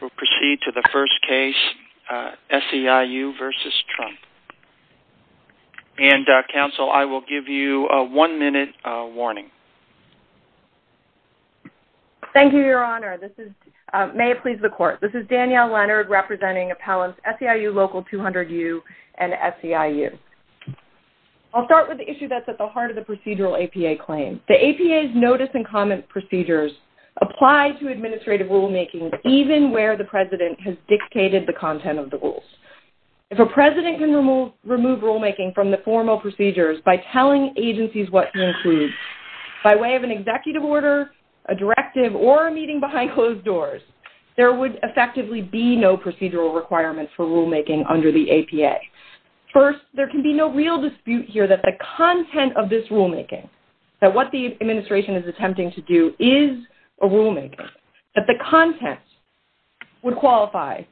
will proceed to the first case, SEIU v. Trump. And, Council, I will give you a one-minute warning. Thank you, Your Honor. May it please the Court. This is Danielle Leonard representing appellants SEIU Local 200U and SEIU. I'll start with the issue that's at the heart of the procedural APA claim. The APA's notice and comment procedures apply to administrative rulemaking even where the President has dictated the content of the rules. If a President can remove rulemaking from the formal procedures by telling agencies what he includes by way of an executive order, a directive, or a meeting behind closed doors, there would effectively be no procedural requirements for rulemaking under the APA. First, there can be no real dispute here that the content of this rulemaking, that what the administration is attempting to do is a rulemaking, that the content would qualify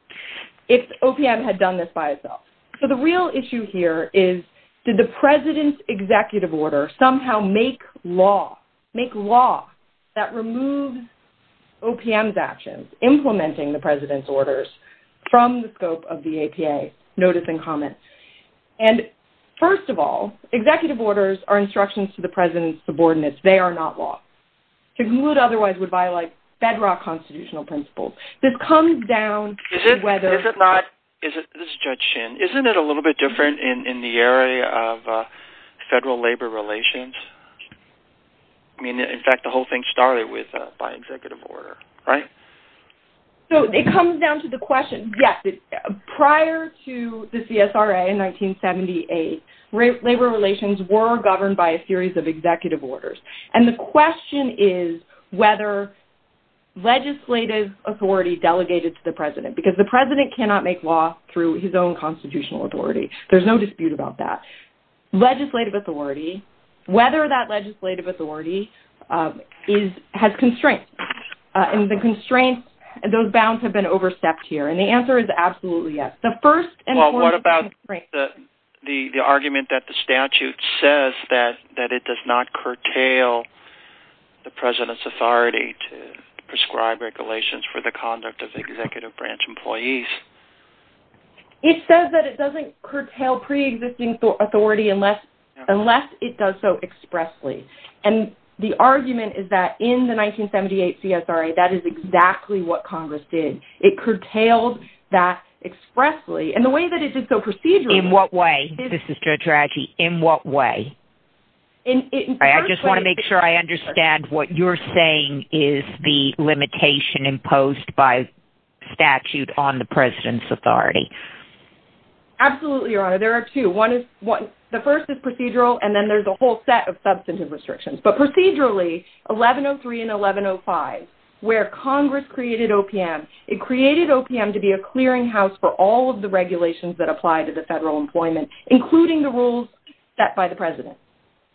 if OPM had done this by itself. So the real issue here is, did the President's executive order somehow make law, make law that removes OPM's actions, implementing the President's orders, from the scope of the APA notice and comment? And, first of all, executive orders are instructions to the President's subordinates. They are not law. Who would otherwise would violate federal constitutional principles? This comes down to whether... Is it not... This is Judge Shin. Isn't it a little bit different in the area of federal labor relations? I mean, in fact, the whole thing started with, by executive order, right? So it comes down to the question. Yes, prior to the CSRA in 1978, labor relations were governed by a series of executive orders. And the question is whether legislative authority delegated to the President, because the President cannot make law through his own constitutional authority. There's no dispute about that. Legislative authority, whether that legislative authority has constraints. And the constraints, those bounds have been overstepped here. And the answer is absolutely yes. The first and foremost constraint... ...is that it does not curtail the President's authority to prescribe regulations for the conduct of executive branch employees. It says that it doesn't curtail pre-existing authority unless it does so expressly. And the argument is that in the 1978 CSRA, that is exactly what Congress did. It curtailed that expressly. And the way that it did so procedurally... In what way? This is Judge Radji. In what way? I just want to make sure I understand what you're saying is the limitation imposed by statute on the President's authority. Absolutely, Your Honor. There are two. The first is procedural, and then there's a whole set of substantive restrictions. But procedurally, 1103 and 1105, where Congress created OPM, it created OPM to be a clearing house for all of the regulations that apply to the federal employment, including the rules set by the President.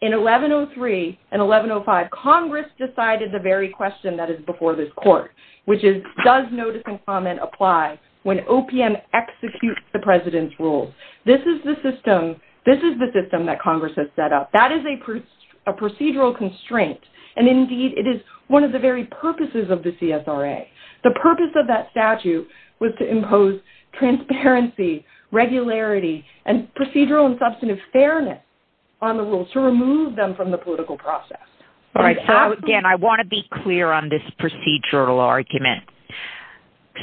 In 1103 and 1105, Congress decided the very question that is before this court, which is, does notice and comment apply when OPM executes the President's rules? This is the system that Congress has set up. That is a procedural constraint. And indeed, it is one of the very purposes of the CSRA. The purpose of that statute was to impose transparency, regularity, and procedural and substantive fairness on the rules to remove them from the political process. Again, I want to be clear on this procedural argument.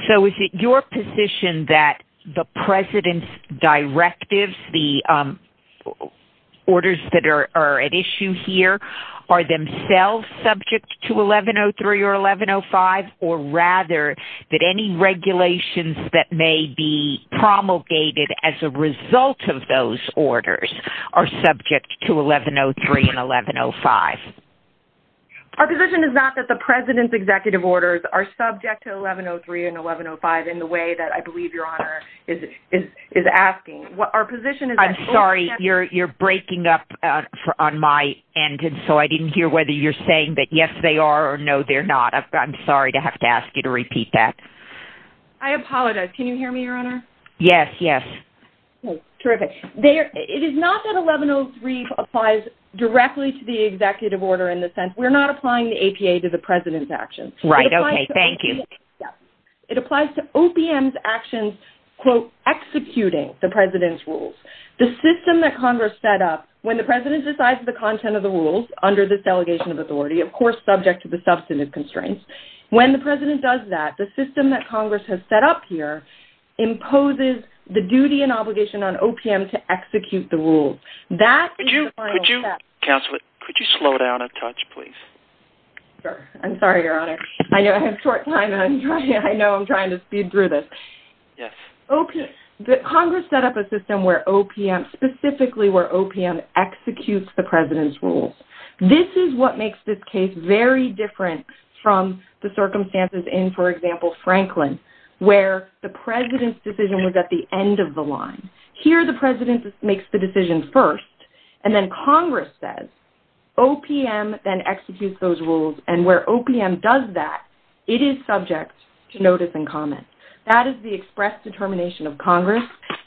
So is it your position that the President's directives, the orders that are at issue here, are themselves subject to 1103 or 1105? Or rather, that any regulations that may be promulgated by Congress as a result of those orders are subject to 1103 and 1105? Our position is not that the President's executive orders are subject to 1103 and 1105 in the way that I believe Your Honor is asking. Our position is that... I'm sorry, you're breaking up on my end. And so I didn't hear whether you're saying that yes, they are or no, they're not. I'm sorry to have to ask you to repeat that. I apologize. Can you hear me, Your Honor? Yes, yes. Okay, terrific. It is not that 1103 applies directly to the executive order in the sense we're not applying the APA to the President's actions. Right, okay, thank you. It applies to OPM's actions, quote, executing the President's rules. The system that Congress set up, when the President decides the content of the rules under this delegation of authority, of course subject to the substantive constraints, when the President does that, the system that opposes the duty and obligation on OPM to execute the rules. That is the final step. Counselor, could you slow down a touch, please? I'm sorry, Your Honor. I have short time and I know I'm trying to speed through this. Congress set up a system specifically where OPM executes the President's rules. This is what makes this case very different from the circumstances in, for example, Franklin, where the President's decision was at the end of the line. Here, the President makes the decision first, and then Congress says, OPM then executes those rules, and where OPM does that, it is subject to notice and comment. That is the express determination of Congress,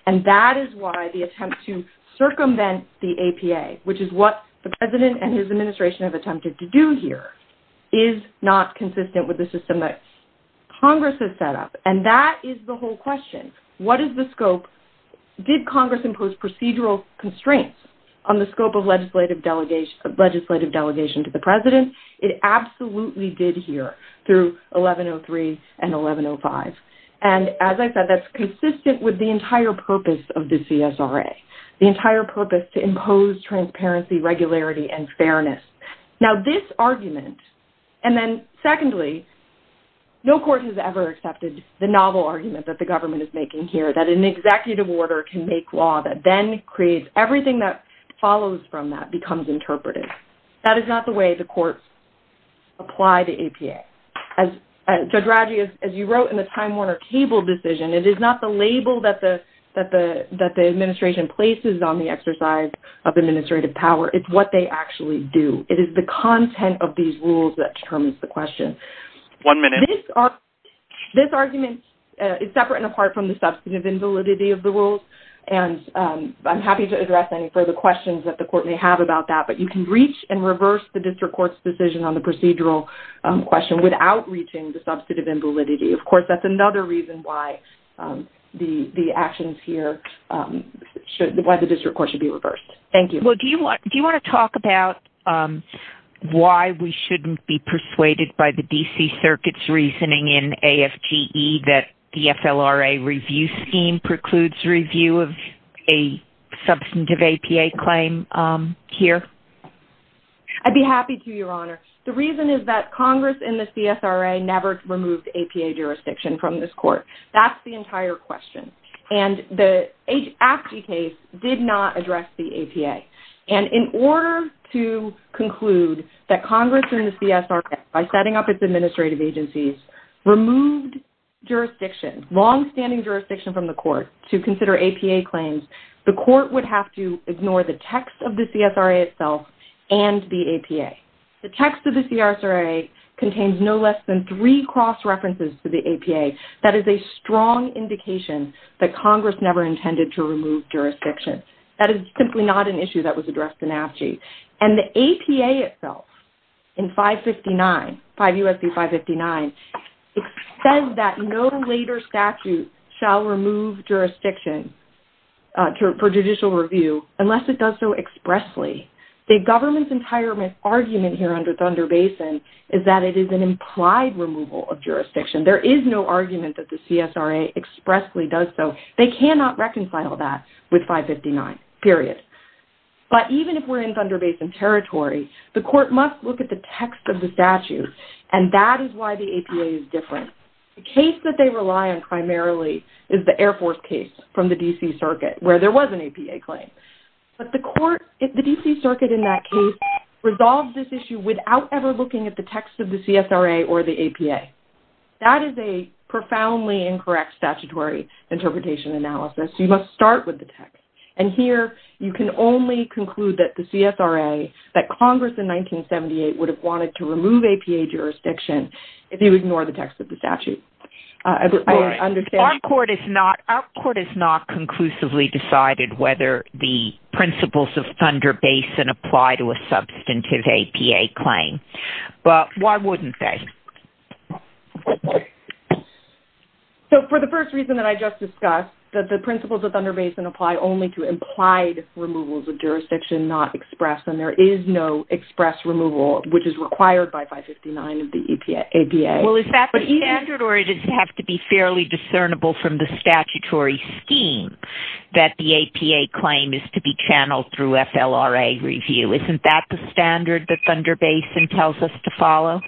and that is why the attempt to circumvent the APA, which is what the President and his administration have attempted to do here, is not consistent with the system that Congress has set up. That is the whole question. What is the scope? Did Congress impose procedural constraints on the scope of legislative delegation to the President? It absolutely did here through 1103 and 1105. As I said, that's consistent with the entire purpose of the CSRA, the entire purpose to impose transparency, regularity, and fairness. Now, this argument, and then secondly, no court has ever accepted the novel argument that the government is making here, that an executive order can make law that then creates everything that follows from that becomes interpretive. That is not the way the courts apply the APA. Judge Radji, as you wrote in the Time Warner Cable decision, it is not the label that the administration places on the exercise of administrative power. It's what they actually do. It is the content of these rules that determines the question. One minute. This argument is separate and apart from the substantive invalidity of the rules. I'm happy to address any further questions that the court may have about that, but you can reach and reverse the district court's decision on the procedural question without reaching the substantive invalidity. Of course, that's another reason why the actions here, why the district court should be reversed. Thank you. Well, do you want to talk about why we shouldn't be persuaded by the D.C. Circuit's reasoning in AFGE that the FLRA review scheme precludes review of a substantive APA claim here? I'd be happy to, Your Honor. The reason is that Congress and the CSRA never removed APA jurisdiction from this court. That's the entire question, and the AFGE case did not address the APA. In order to conclude that Congress and the CSRA, by setting up its administrative agencies, removed jurisdiction, longstanding jurisdiction from the court to consider APA claims, the court would have to ignore the text of the CSRA itself and the APA. The text of the CRSRA contains no less than three cross-references to the APA. That is a strong indication that it's basically not an issue that was addressed in AFGE. And the APA itself, in 559, 5 U.S. B. 559, it says that no later statute shall remove jurisdiction for judicial review unless it does so expressly. The government's entire argument here under Thunder Basin is that it is an implied removal of jurisdiction. There is no argument that the CSRA expressly does so. They cannot reconcile that with 559, period. But even if we're in Thunder Basin territory, the court must look at the text of the statute, and that is why the APA is different. The case that they rely on primarily is the Air Force case from the D.C. Circuit, where there was an APA claim. But the court, the D.C. Circuit in that case, resolved this issue without ever looking at the text of the CSRA or the APA. That is a profoundly incorrect statutory interpretation analysis. You must start with the text. And here, you can only conclude that the CSRA, that Congress in 1978 would have wanted to remove APA jurisdiction if you ignore the text of the statute. I understand... Our court has not conclusively decided whether the principles of Thunder Basin apply to a substantive APA claim. But why wouldn't they? So for the first reason that I just discussed, that the principles of Thunder Basin apply only to implied removals of jurisdiction, not express. And there is no express removal, which is required by 559 of the APA. Well, is that the standard, or does it have to be fairly discernible from the statutory scheme that the APA claim is to be channeled through FLRA review? Isn't that the standard that Thunder Basin tells us to follow?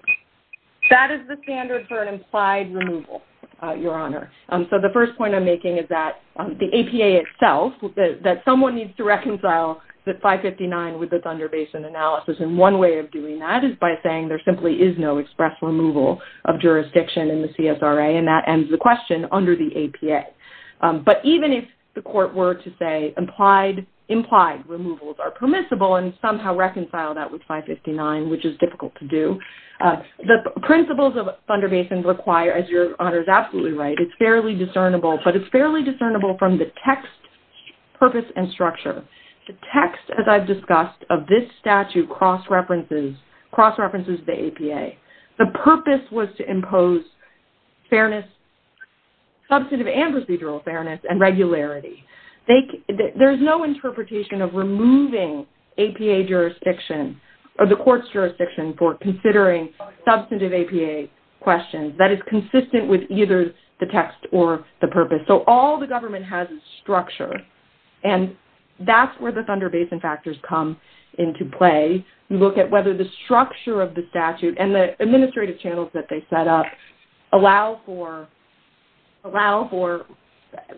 That is the standard for an implied removal, Your Honor. So the first point I'm making is that the APA itself, that someone needs to reconcile the 559 with the Thunder Basin analysis. And one way of doing that is by saying there simply is no express removal of jurisdiction in the CSRA. And that ends the question under the APA. But even if the court were to say implied removals are permissible and somehow reconcile that with 559, which is difficult to do, the principles of Thunder Basin require, as Your Honor is absolutely right, it's fairly discernible. But it's fairly discernible from the text, purpose, and structure. The text, as I've discussed, of this statute cross-references the APA. The purpose was to impose fairness, substantive and procedural fairness, and regularity. There's no interpretation of removing APA jurisdiction or the court's jurisdiction for considering substantive APA questions. That is consistent with either the text or the purpose. So all the government has is structure. And that's where the Thunder Basin factors come into play. You look at whether the structure of the statute and the administrative channels that they set up allow for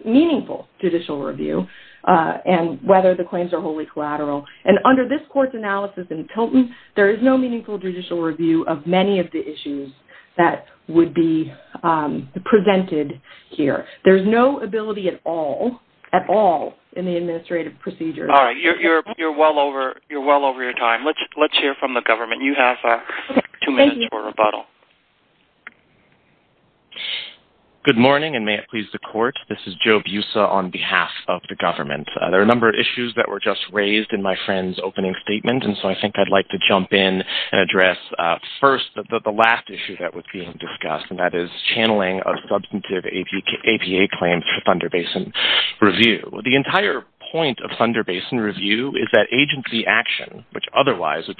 meaningful judicial review and whether the claims are wholly collateral. And under this court's analysis in Tilton, there is no meaningful judicial review of many of the issues that would be presented here. There's no ability at all, at all, in the administrative procedures. All right. You're well over your time. Let's hear from the government. You have two minutes for rebuttal. Thank you. Good morning, and may it please the court. This is Joe Busa on behalf of the government. There are a number of issues that were just raised in my friend's opening statement, and so I think I'd like to jump in and address first the last issue that was being discussed, and that is channeling of substantive APA claims for Thunder Basin review. The entire point of Thunder Basin review is that agency action, which otherwise would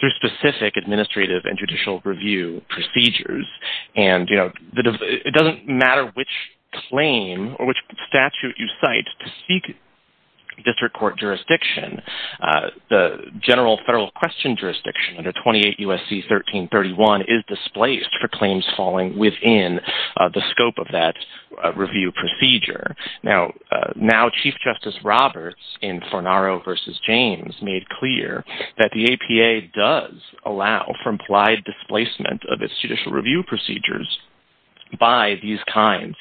through specific administrative and judicial review procedures, and it doesn't matter which claim or which statute you cite to seek district court jurisdiction. The general federal question jurisdiction under 28 U.S.C. 1331 is displaced for claims falling within the scope of that review procedure. Now, Chief Justice Roberts in Fornaro v. James made clear that the APA does allow for implied displacement of its judicial review procedures by these kinds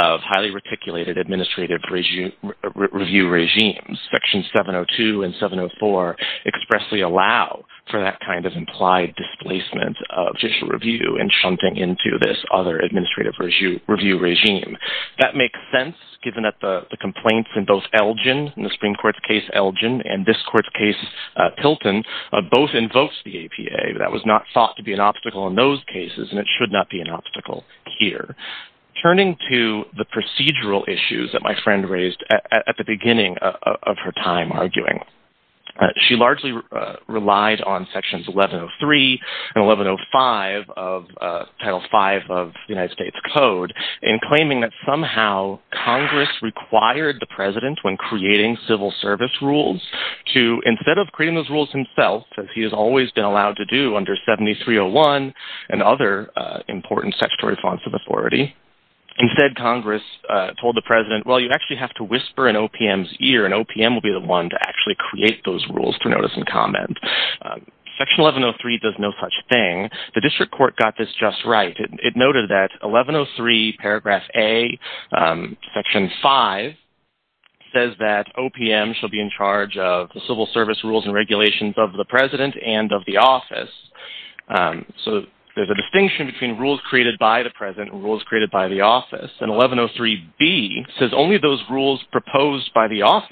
of highly reticulated administrative review regimes. Section 702 and 704 expressly allow for that kind of implied displacement of judicial review and shunting into this other administrative review regime. That makes sense given that the complaints in both Elgin, in the Supreme Court's case Elgin, and this court's case Tilton, both invokes the APA. That was not thought to be an obstacle in those cases, and it should not be an obstacle here. Turning to the procedural issues that my friend raised at the beginning of her time arguing, she largely relied on sections 1103 and 1105 of Title V of the United States Code in claiming that somehow Congress required the president when creating civil service rules to, instead of creating those rules himself, as he has always been allowed to do under 7301 and other important statutory fonts of authority, instead Congress told the president, well, you actually have to whisper in OPM's ear, and OPM will be the one to actually create those rules to notice and comment. Section 1103 does no such thing. The district court got this just right. It noted that 1103 paragraph A, section 5, says that OPM shall be in charge of the civil service rules and regulations of the president and of the office. So there's a distinction between rules created by the president and rules created by the office, and 1103B says only those rules proposed by the rules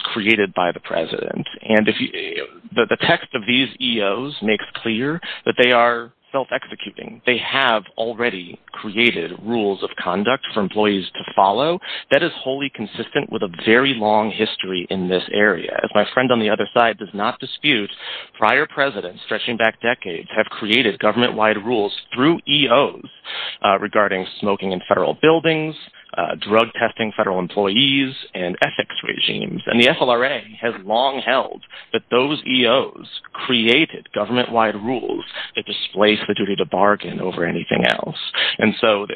created by the president, and the text of these EOs makes clear that they are self-executing. They have already created rules of conduct for employees to follow. That is wholly consistent with a very long history in this area. As my friend on the other side does not dispute, prior presidents stretching back decades have created government-wide rules through EOs regarding smoking in federal buildings, drug testing federal employees, and ethics regimes, and the FLRA has long held that those EOs created government-wide rules that displace the duty to bargain over anything else. And so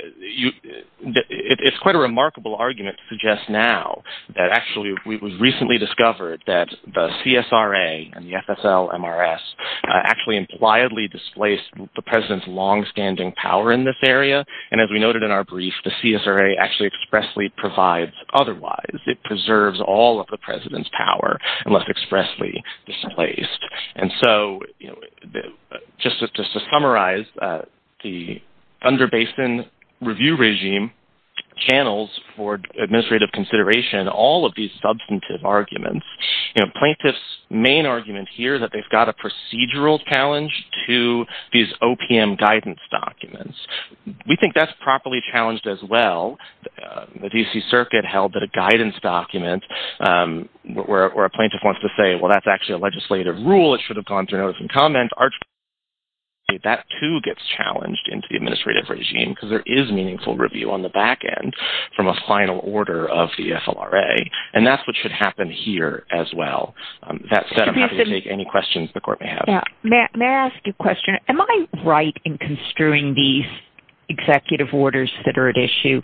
it's quite a remarkable argument to suggest now that actually it was recently discovered that the CSRA and the FSL-MRS actually impliedly displaced the area, and as we noted in our brief, the CSRA actually expressly provides otherwise. It preserves all of the president's power unless expressly displaced. And so just to summarize, the Thunder Basin Review Regime channels for administrative consideration all of these substantive arguments. Plaintiff's main argument here is that they've got a procedural challenge to these OPM guidance documents. We think that's properly challenged as well. The D.C. Circuit held that a guidance document where a plaintiff wants to say, well, that's actually a legislative rule. It should have gone through notice and comment. That too gets challenged into the administrative regime because there is meaningful review on the back end from a final order of the FLRA, and that's what should happen here as well. That said, I'm happy to take any questions the Am I right in construing these executive orders that are at issue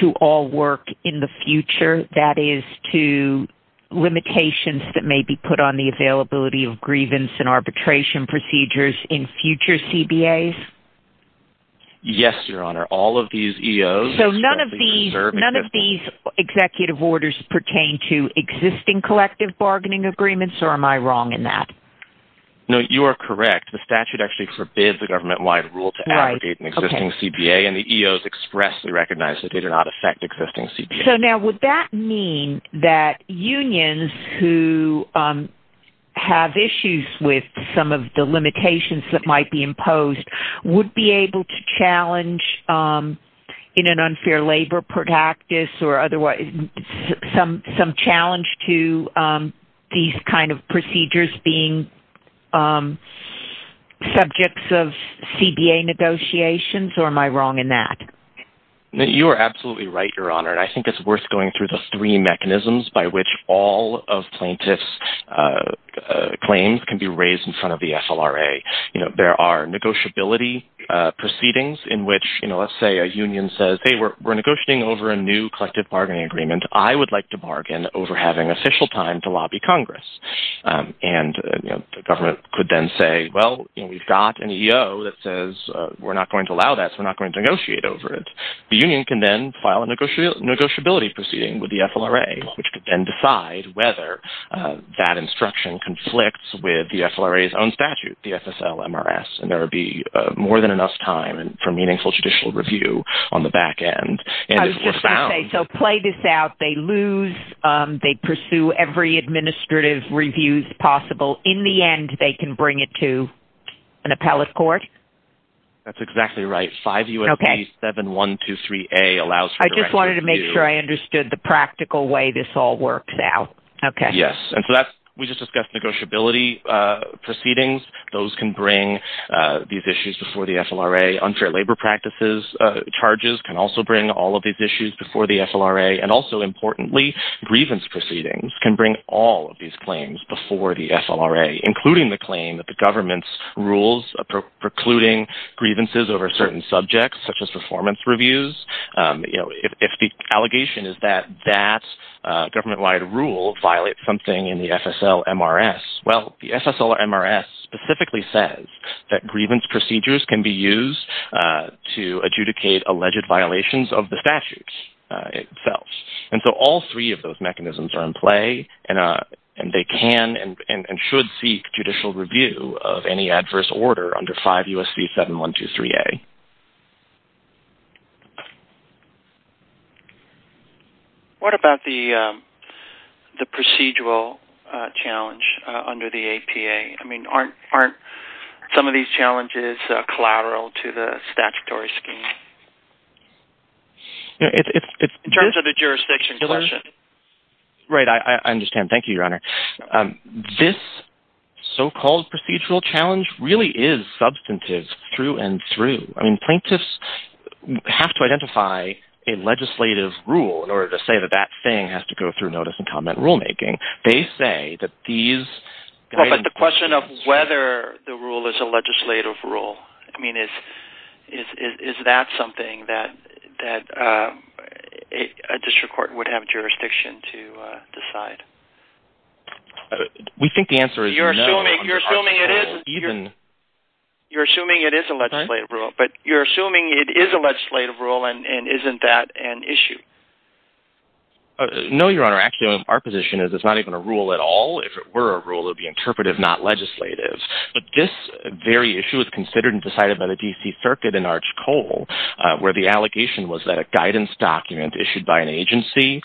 to all work in the future, that is to limitations that may be put on the availability of grievance and arbitration procedures in future CBAs? Yes, Your Honor. All of these EOs... So none of these executive orders pertain to existing collective bargaining agreements, or am I wrong in that? No, you are correct. The statute actually forbids a government-wide rule to allocate an existing CBA, and the EOs expressly recognize that they do not affect existing CBAs. So now, would that mean that unions who have issues with some of the limitations that might be imposed would be able to challenge in an unfair labor practice or otherwise some challenge to these kind of procedures being subjects of CBA negotiations, or am I wrong in that? You are absolutely right, Your Honor, and I think it's worth going through the three mechanisms by which all of plaintiffs' claims can be raised in front of the FLRA. You know, there are negotiability proceedings in which, you know, let's say a union says, hey, we're negotiating over a new collective agreement. I would like to bargain over having official time to lobby Congress, and the government could then say, well, we've got an EO that says we're not going to allow that, so we're not going to negotiate over it. The union can then file a negotiability proceeding with the FLRA, which could then decide whether that instruction conflicts with the FLRA's own statute, the SSL-MRS, and there would be more than enough time for meaningful judicial review on the back end, and it's profound. I was just going to say, so play this out. They lose. They pursue every administrative review possible. In the end, they can bring it to an appellate court? That's exactly right. 5 U.S.B. 7123A allows for direct review. I just wanted to make sure I understood the practical way this all works out. Okay. Yes, and so that's, we just discussed negotiability proceedings. Those can bring these issues before the FLRA. Unfair labor practices charges can also bring all of these issues before the FLRA, and also, importantly, grievance proceedings can bring all of these claims before the FLRA, including the claim that the government's rules precluding grievances over certain subjects, such as performance reviews. If the allegation is that that government-wide rule violates something in the SSL-MRS, well, the SSL-MRS specifically says that grievance procedures can be used to adjudicate alleged violations of the statutes itself, and so all three of those mechanisms are in play, and they can and should seek judicial review of any adverse order under 5 U.S.B. 7123A. Okay. What about the procedural challenge under the APA? I mean, aren't some of these challenges collateral to the statutory scheme? In terms of the jurisdiction question. Right, I understand. Thank you, Your Honor. This so-called procedural challenge really is substantive through and through. I mean, plaintiffs have to identify a legislative rule in order to say that that thing has to go through notice and comment rulemaking. They say that these... Well, but the question of whether the rule is a legislative rule, I mean, is that something that a district court would have jurisdiction to decide? We think the answer is no. You're assuming it is a legislative rule, but you're assuming it is a legislative rule, and isn't that an issue? No, Your Honor. Actually, our position is it's not even a rule at all. If it were a rule, it would be interpretive, not legislative. But this very issue was considered and decided by the D.C. Circuit in Arch Cole, where the allegation was that a guidance document issued by an agency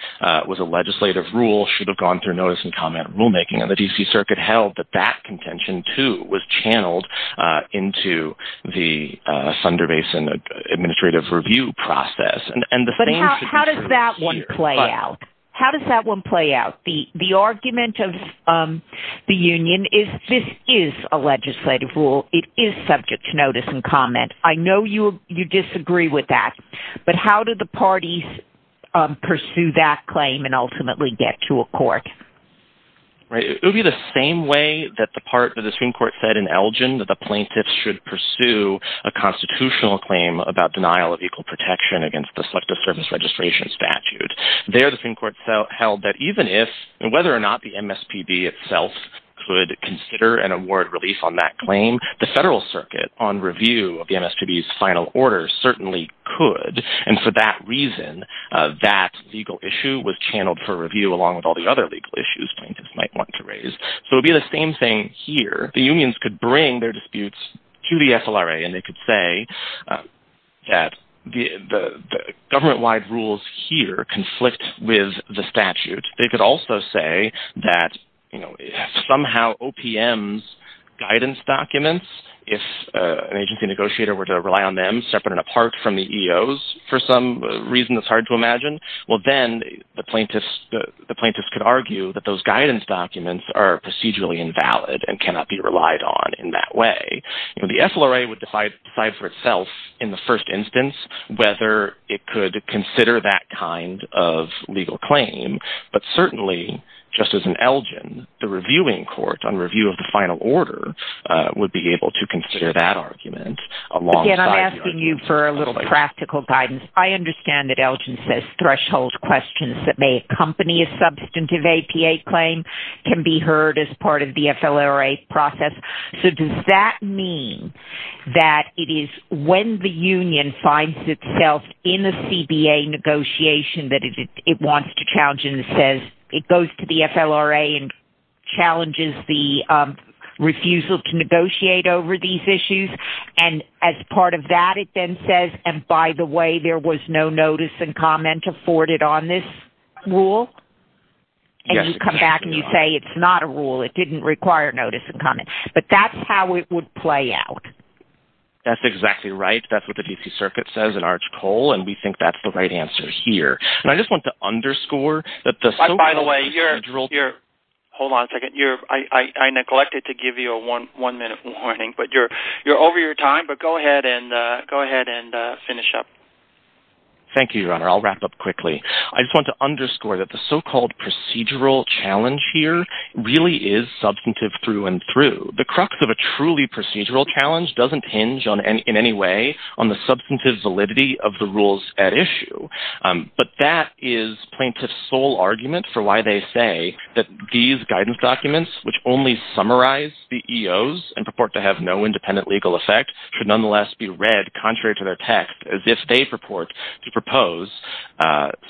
was a legislative rule, should have gone through notice and comment rulemaking. And the D.C. Circuit held that that contention, too, was channeled into the Thunder Basin Administrative Review process. But how does that one play out? How does that one play out? The argument of the union is this is a legislative rule. It is subject to notice and comment. I know you disagree with that, but how do the parties pursue that claim and ultimately get to a court? Right. It would be the same way that the part of the Supreme Court said in Elgin that the plaintiffs should pursue a constitutional claim about denial of equal protection against the Selective Service Registration Statute. There, the Supreme Court held that even if and whether or not the MSPB could consider an award release on that claim, the Federal Circuit on review of the MSPB's final order certainly could. And for that reason, that legal issue was channeled for review along with all the other legal issues plaintiffs might want to raise. So it would be the same thing here. The unions could bring their disputes to the FLRA, and they could say that the government-wide conflict with the statute. They could also say that somehow OPM's guidance documents, if an agency negotiator were to rely on them separate and apart from the EOs for some reason that's hard to imagine, well, then the plaintiffs could argue that those guidance documents are procedurally invalid and cannot be relied on in that way. The FLRA would decide for itself in the first instance whether it could consider that kind of legal claim. But certainly, just as in Elgin, the reviewing court on review of the final order would be able to consider that argument alongside... Again, I'm asking you for a little practical guidance. I understand that Elgin says threshold questions that may accompany a substantive APA claim can be heard as part of the FLRA process. So does that mean that it is when the union finds itself in a CBA negotiation that it wants to challenge and says it goes to the FLRA and challenges the refusal to negotiate over these issues? And as part of that, it then says, and by the way, there was no notice and comment, but that's how it would play out. That's exactly right. That's what the DC circuit says at Arch Cole. And we think that's the right answer here. And I just want to underscore that the... By the way, hold on a second. I neglected to give you a one minute warning, but you're over your time, but go ahead and go ahead and finish up. Thank you, your honor. I'll wrap up quickly. I just want to underscore that the so-called procedural challenge here really is substantive through and through. The crux of a truly procedural challenge doesn't hinge in any way on the substantive validity of the rules at issue, but that is plaintiff's sole argument for why they say that these guidance documents, which only summarize the EOs and purport to have no independent legal effect, should nonetheless be read contrary to their text as if they purport to propose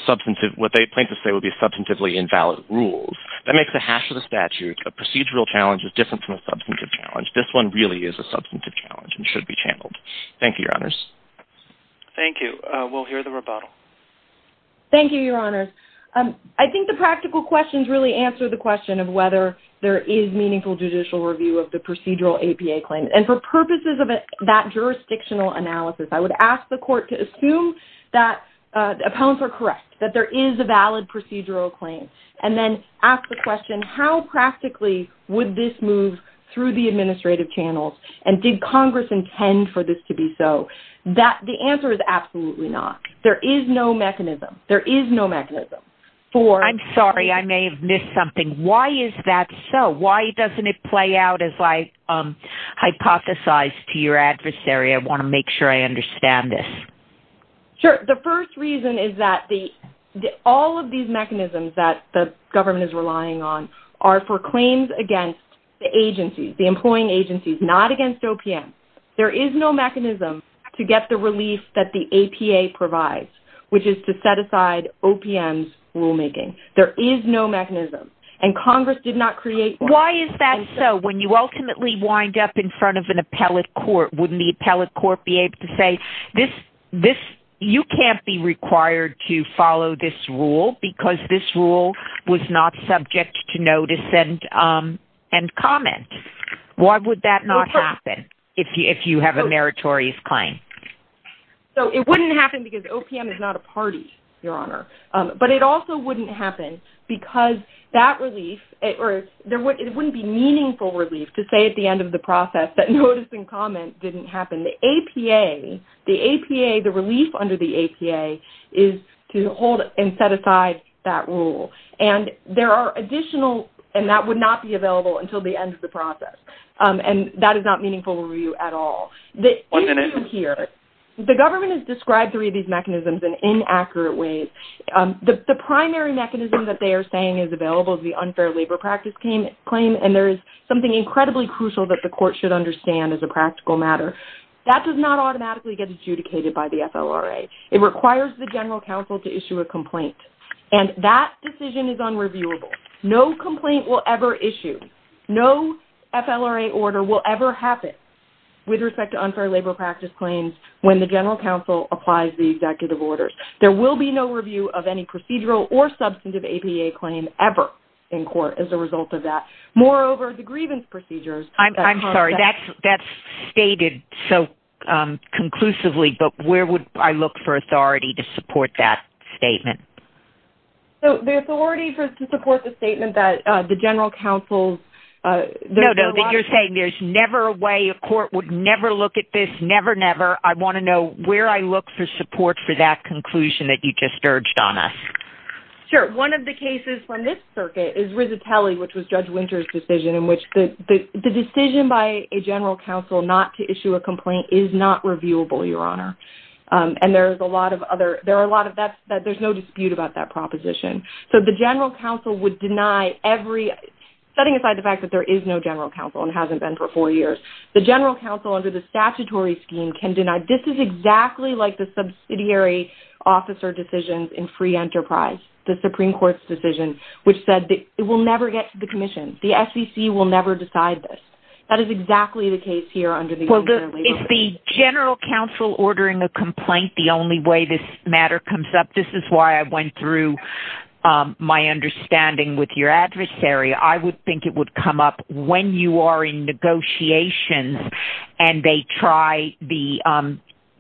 substantive... What they point to say would be substantively invalid rules. That makes a hash of the statute. A procedural challenge is different from a substantive challenge. This one really is a substantive challenge and should be channeled. Thank you, your honors. Thank you. We'll hear the rebuttal. Thank you, your honors. I think the practical questions really answer the question of whether there is meaningful judicial review of the procedural APA claim. And for purposes of that jurisdictional analysis, I would ask the court to assume that the appellants are correct, that there is a valid procedural claim, and then ask the question, how practically would this move through the administrative channels? And did Congress intend for this to be so? The answer is absolutely not. There is no mechanism. There is no mechanism for... I'm sorry. I may have missed something. Why is that so? Why doesn't it play out as I hypothesized to your adversary? I want to make sure I understand this. Sure. The first reason is that all of these mechanisms that the government is relying on are for claims against the agencies, the employing agencies, not against OPM. There is no mechanism to get the relief that the APA provides, which is to set aside OPM's rulemaking. There is no mechanism. And Congress did not create... Why is that so? When you ultimately wind up in front of an appellate court, wouldn't the appellate court be able to say, you can't be required to follow this rule because this rule was not subject to notice and comment? Why would that not happen if you have a meritorious claim? So it wouldn't happen because OPM is not a party, Your Honor. But it also wouldn't happen because that relief... It wouldn't be meaningful relief to say at the end of the process that notice and comment didn't happen. The APA, the APA, the relief under the APA is to hold and set aside that rule. And there are additional... And that would not be available until the end of the process. And that is not meaningful review at all. Even from here, the government has described three of these mechanisms in inaccurate ways. The primary mechanism that they are saying is available is the unfair labor practice claim. And there is something incredibly crucial that the court should understand as a practical matter. That does not automatically get adjudicated by the FLRA. It requires the general counsel to issue a complaint. And that decision is unreviewable. No complaint will ever issue. No FLRA order will ever happen with respect to unfair labor practice claims when the general counsel applies the executive orders. There will be no review of any procedural or substantive APA claim ever in court as a result of that. Moreover, the grievance procedures... I'm sorry, that's stated so conclusively, but where would I look for authority to support that statement? So the authority to support the statement that the general counsel... No, no, you're saying there's never a way a court would never look at this, never, never. I want to know where I look for support for that conclusion that you just urged on us. Sure. One of the cases from this circuit is Rizzatelli, which was Judge Winter's decision in which the decision by a general counsel not to issue a complaint is not reviewable, Your Honor. And there's a lot of other... There are a lot of... There's no dispute about that proposition. So the general counsel would deny every... Setting aside the fact that there is no general counsel and hasn't been for four years, the general counsel under the statutory scheme can deny... This is exactly like the subsidiary officer decisions in free enterprise, the Supreme Court's decision, which said that it will never get to the commission. The SEC will never decide this. That is exactly the case here under the... Is the general counsel ordering a complaint the only way this matter comes up? This is why I went through my understanding with your adversary. I would think it would come up when you are in negotiations and they try... The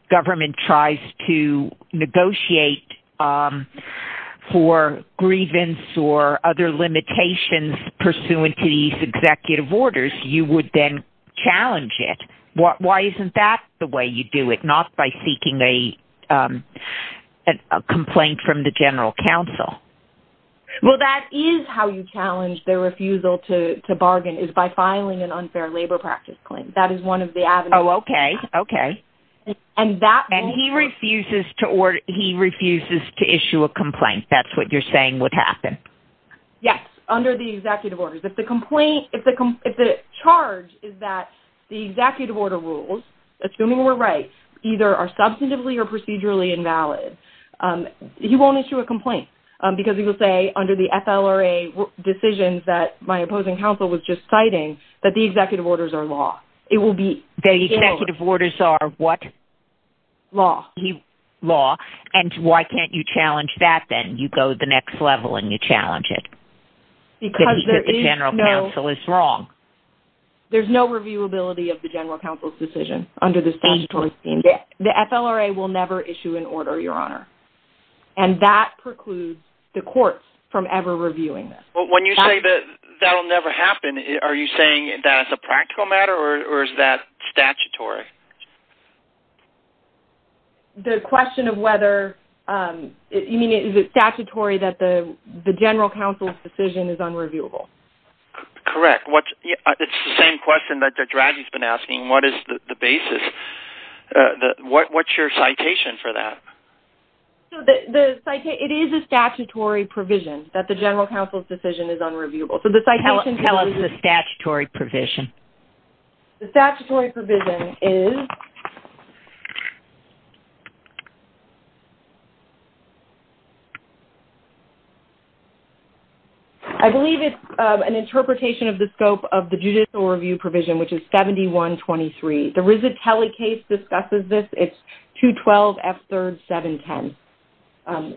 government tries to negotiate for grievance or other limitations pursuant to these executive orders. You would then challenge it. Why isn't that the way you do it, not by seeking a complaint from the general counsel? Well, that is how you challenge their refusal to bargain is by filing an unfair labor practice claim. That is one of the avenues. Oh, okay. Okay. And he refuses to issue a complaint. That's what you're saying would happen? Yes, under the executive orders. If the charge is that the executive order rules, assuming we're right, either are substantively or procedurally invalid, he won't issue a complaint because he will say under the FLRA decisions that my opposing counsel was just citing that the executive orders are law. It will be... The executive orders are what? Law. Law. And why can't you challenge that then? You go to the next level and you challenge it because the general counsel is wrong. There's no reviewability of the general counsel's decision under the statutory scheme. The FLRA will never issue an order, Your Honor. And that precludes the courts from ever reviewing this. But when you say that that'll never happen, are you saying that it's a practical matter or is that statutory? The question of whether... You mean is it statutory that the general counsel's decision is unreviewable? Correct. It's the same question that Judge Raggi's been asking, what is the basis? What's your citation for that? It is a statutory provision that the general counsel's decision is unreviewable. So the citation... Tell us the statutory provision. The statutory provision is... I believe it's an interpretation of the scope of the judicial review provision, which is 7123. The Rizzitelli case discusses this. It's 212F3-710,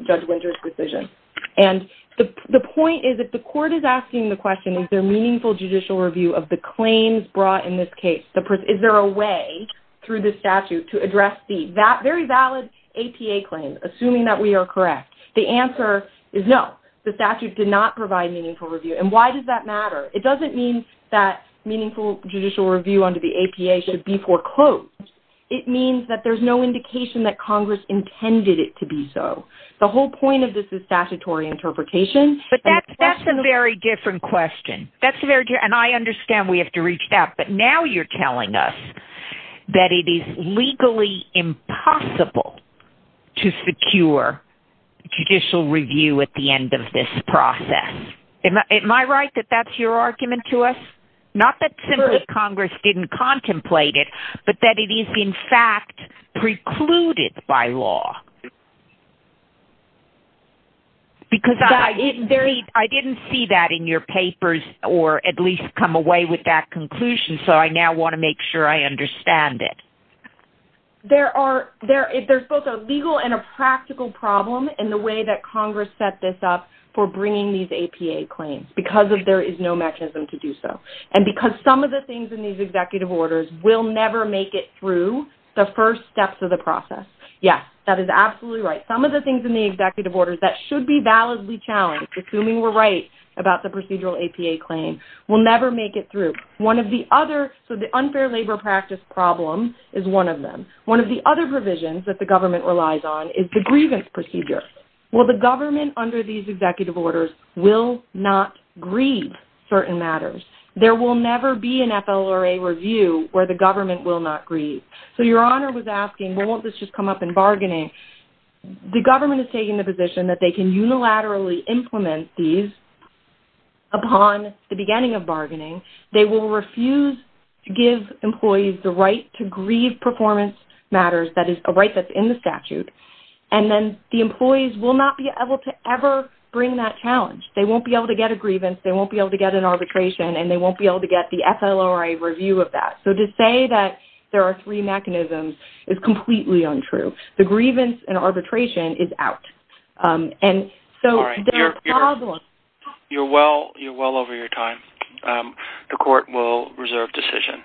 Judge Winter's decision. And the point is that the court is asking the question, is there meaningful judicial review of the claims brought in this case? Is there a way through the statute to address that very valid APA claim, assuming that we are correct? The answer is no. The statute did not provide meaningful review. And why does that matter? It doesn't mean that meaningful judicial review under the APA should be foreclosed. It means that there's no indication that Congress intended it to be so. The whole point of this is statutory interpretation. But that's a very different question. And I understand we have to reach out, but now you're telling us that it is legally impossible to secure judicial review at the end of this process. Am I right that that's your argument to us? Not that simply Congress didn't contemplate it, but that it is in fact precluded by law. Because I didn't see that in your papers or at least come away with that conclusion, so I now want to make sure I understand it. There's both a legal and a practical problem in the way that Congress set this up for bringing these APA claims because there is no mechanism to do so. And because some of the things in these executive orders will never make it through the first steps of the process. Yes, that is absolutely right. Some of the things in the should be validly challenged, assuming we're right about the procedural APA claim, will never make it through. So the unfair labor practice problem is one of them. One of the other provisions that the government relies on is the grievance procedure. Well, the government under these executive orders will not grieve certain matters. There will never be an FLRA review where the government will not grieve. So your honor was asking, well, won't this just come up in bargaining? The government is taking the position that they can unilaterally implement these upon the beginning of bargaining. They will refuse to give employees the right to grieve performance matters, that is a right that's in the statute. And then the employees will not be able to ever bring that challenge. They won't be able to get a grievance, they won't be able to get an arbitration, and they won't be able to get the FLRA review of that. So to say that there are three mechanisms is completely untrue. The grievance and arbitration is out. You're well over your time. The court will reserve decision.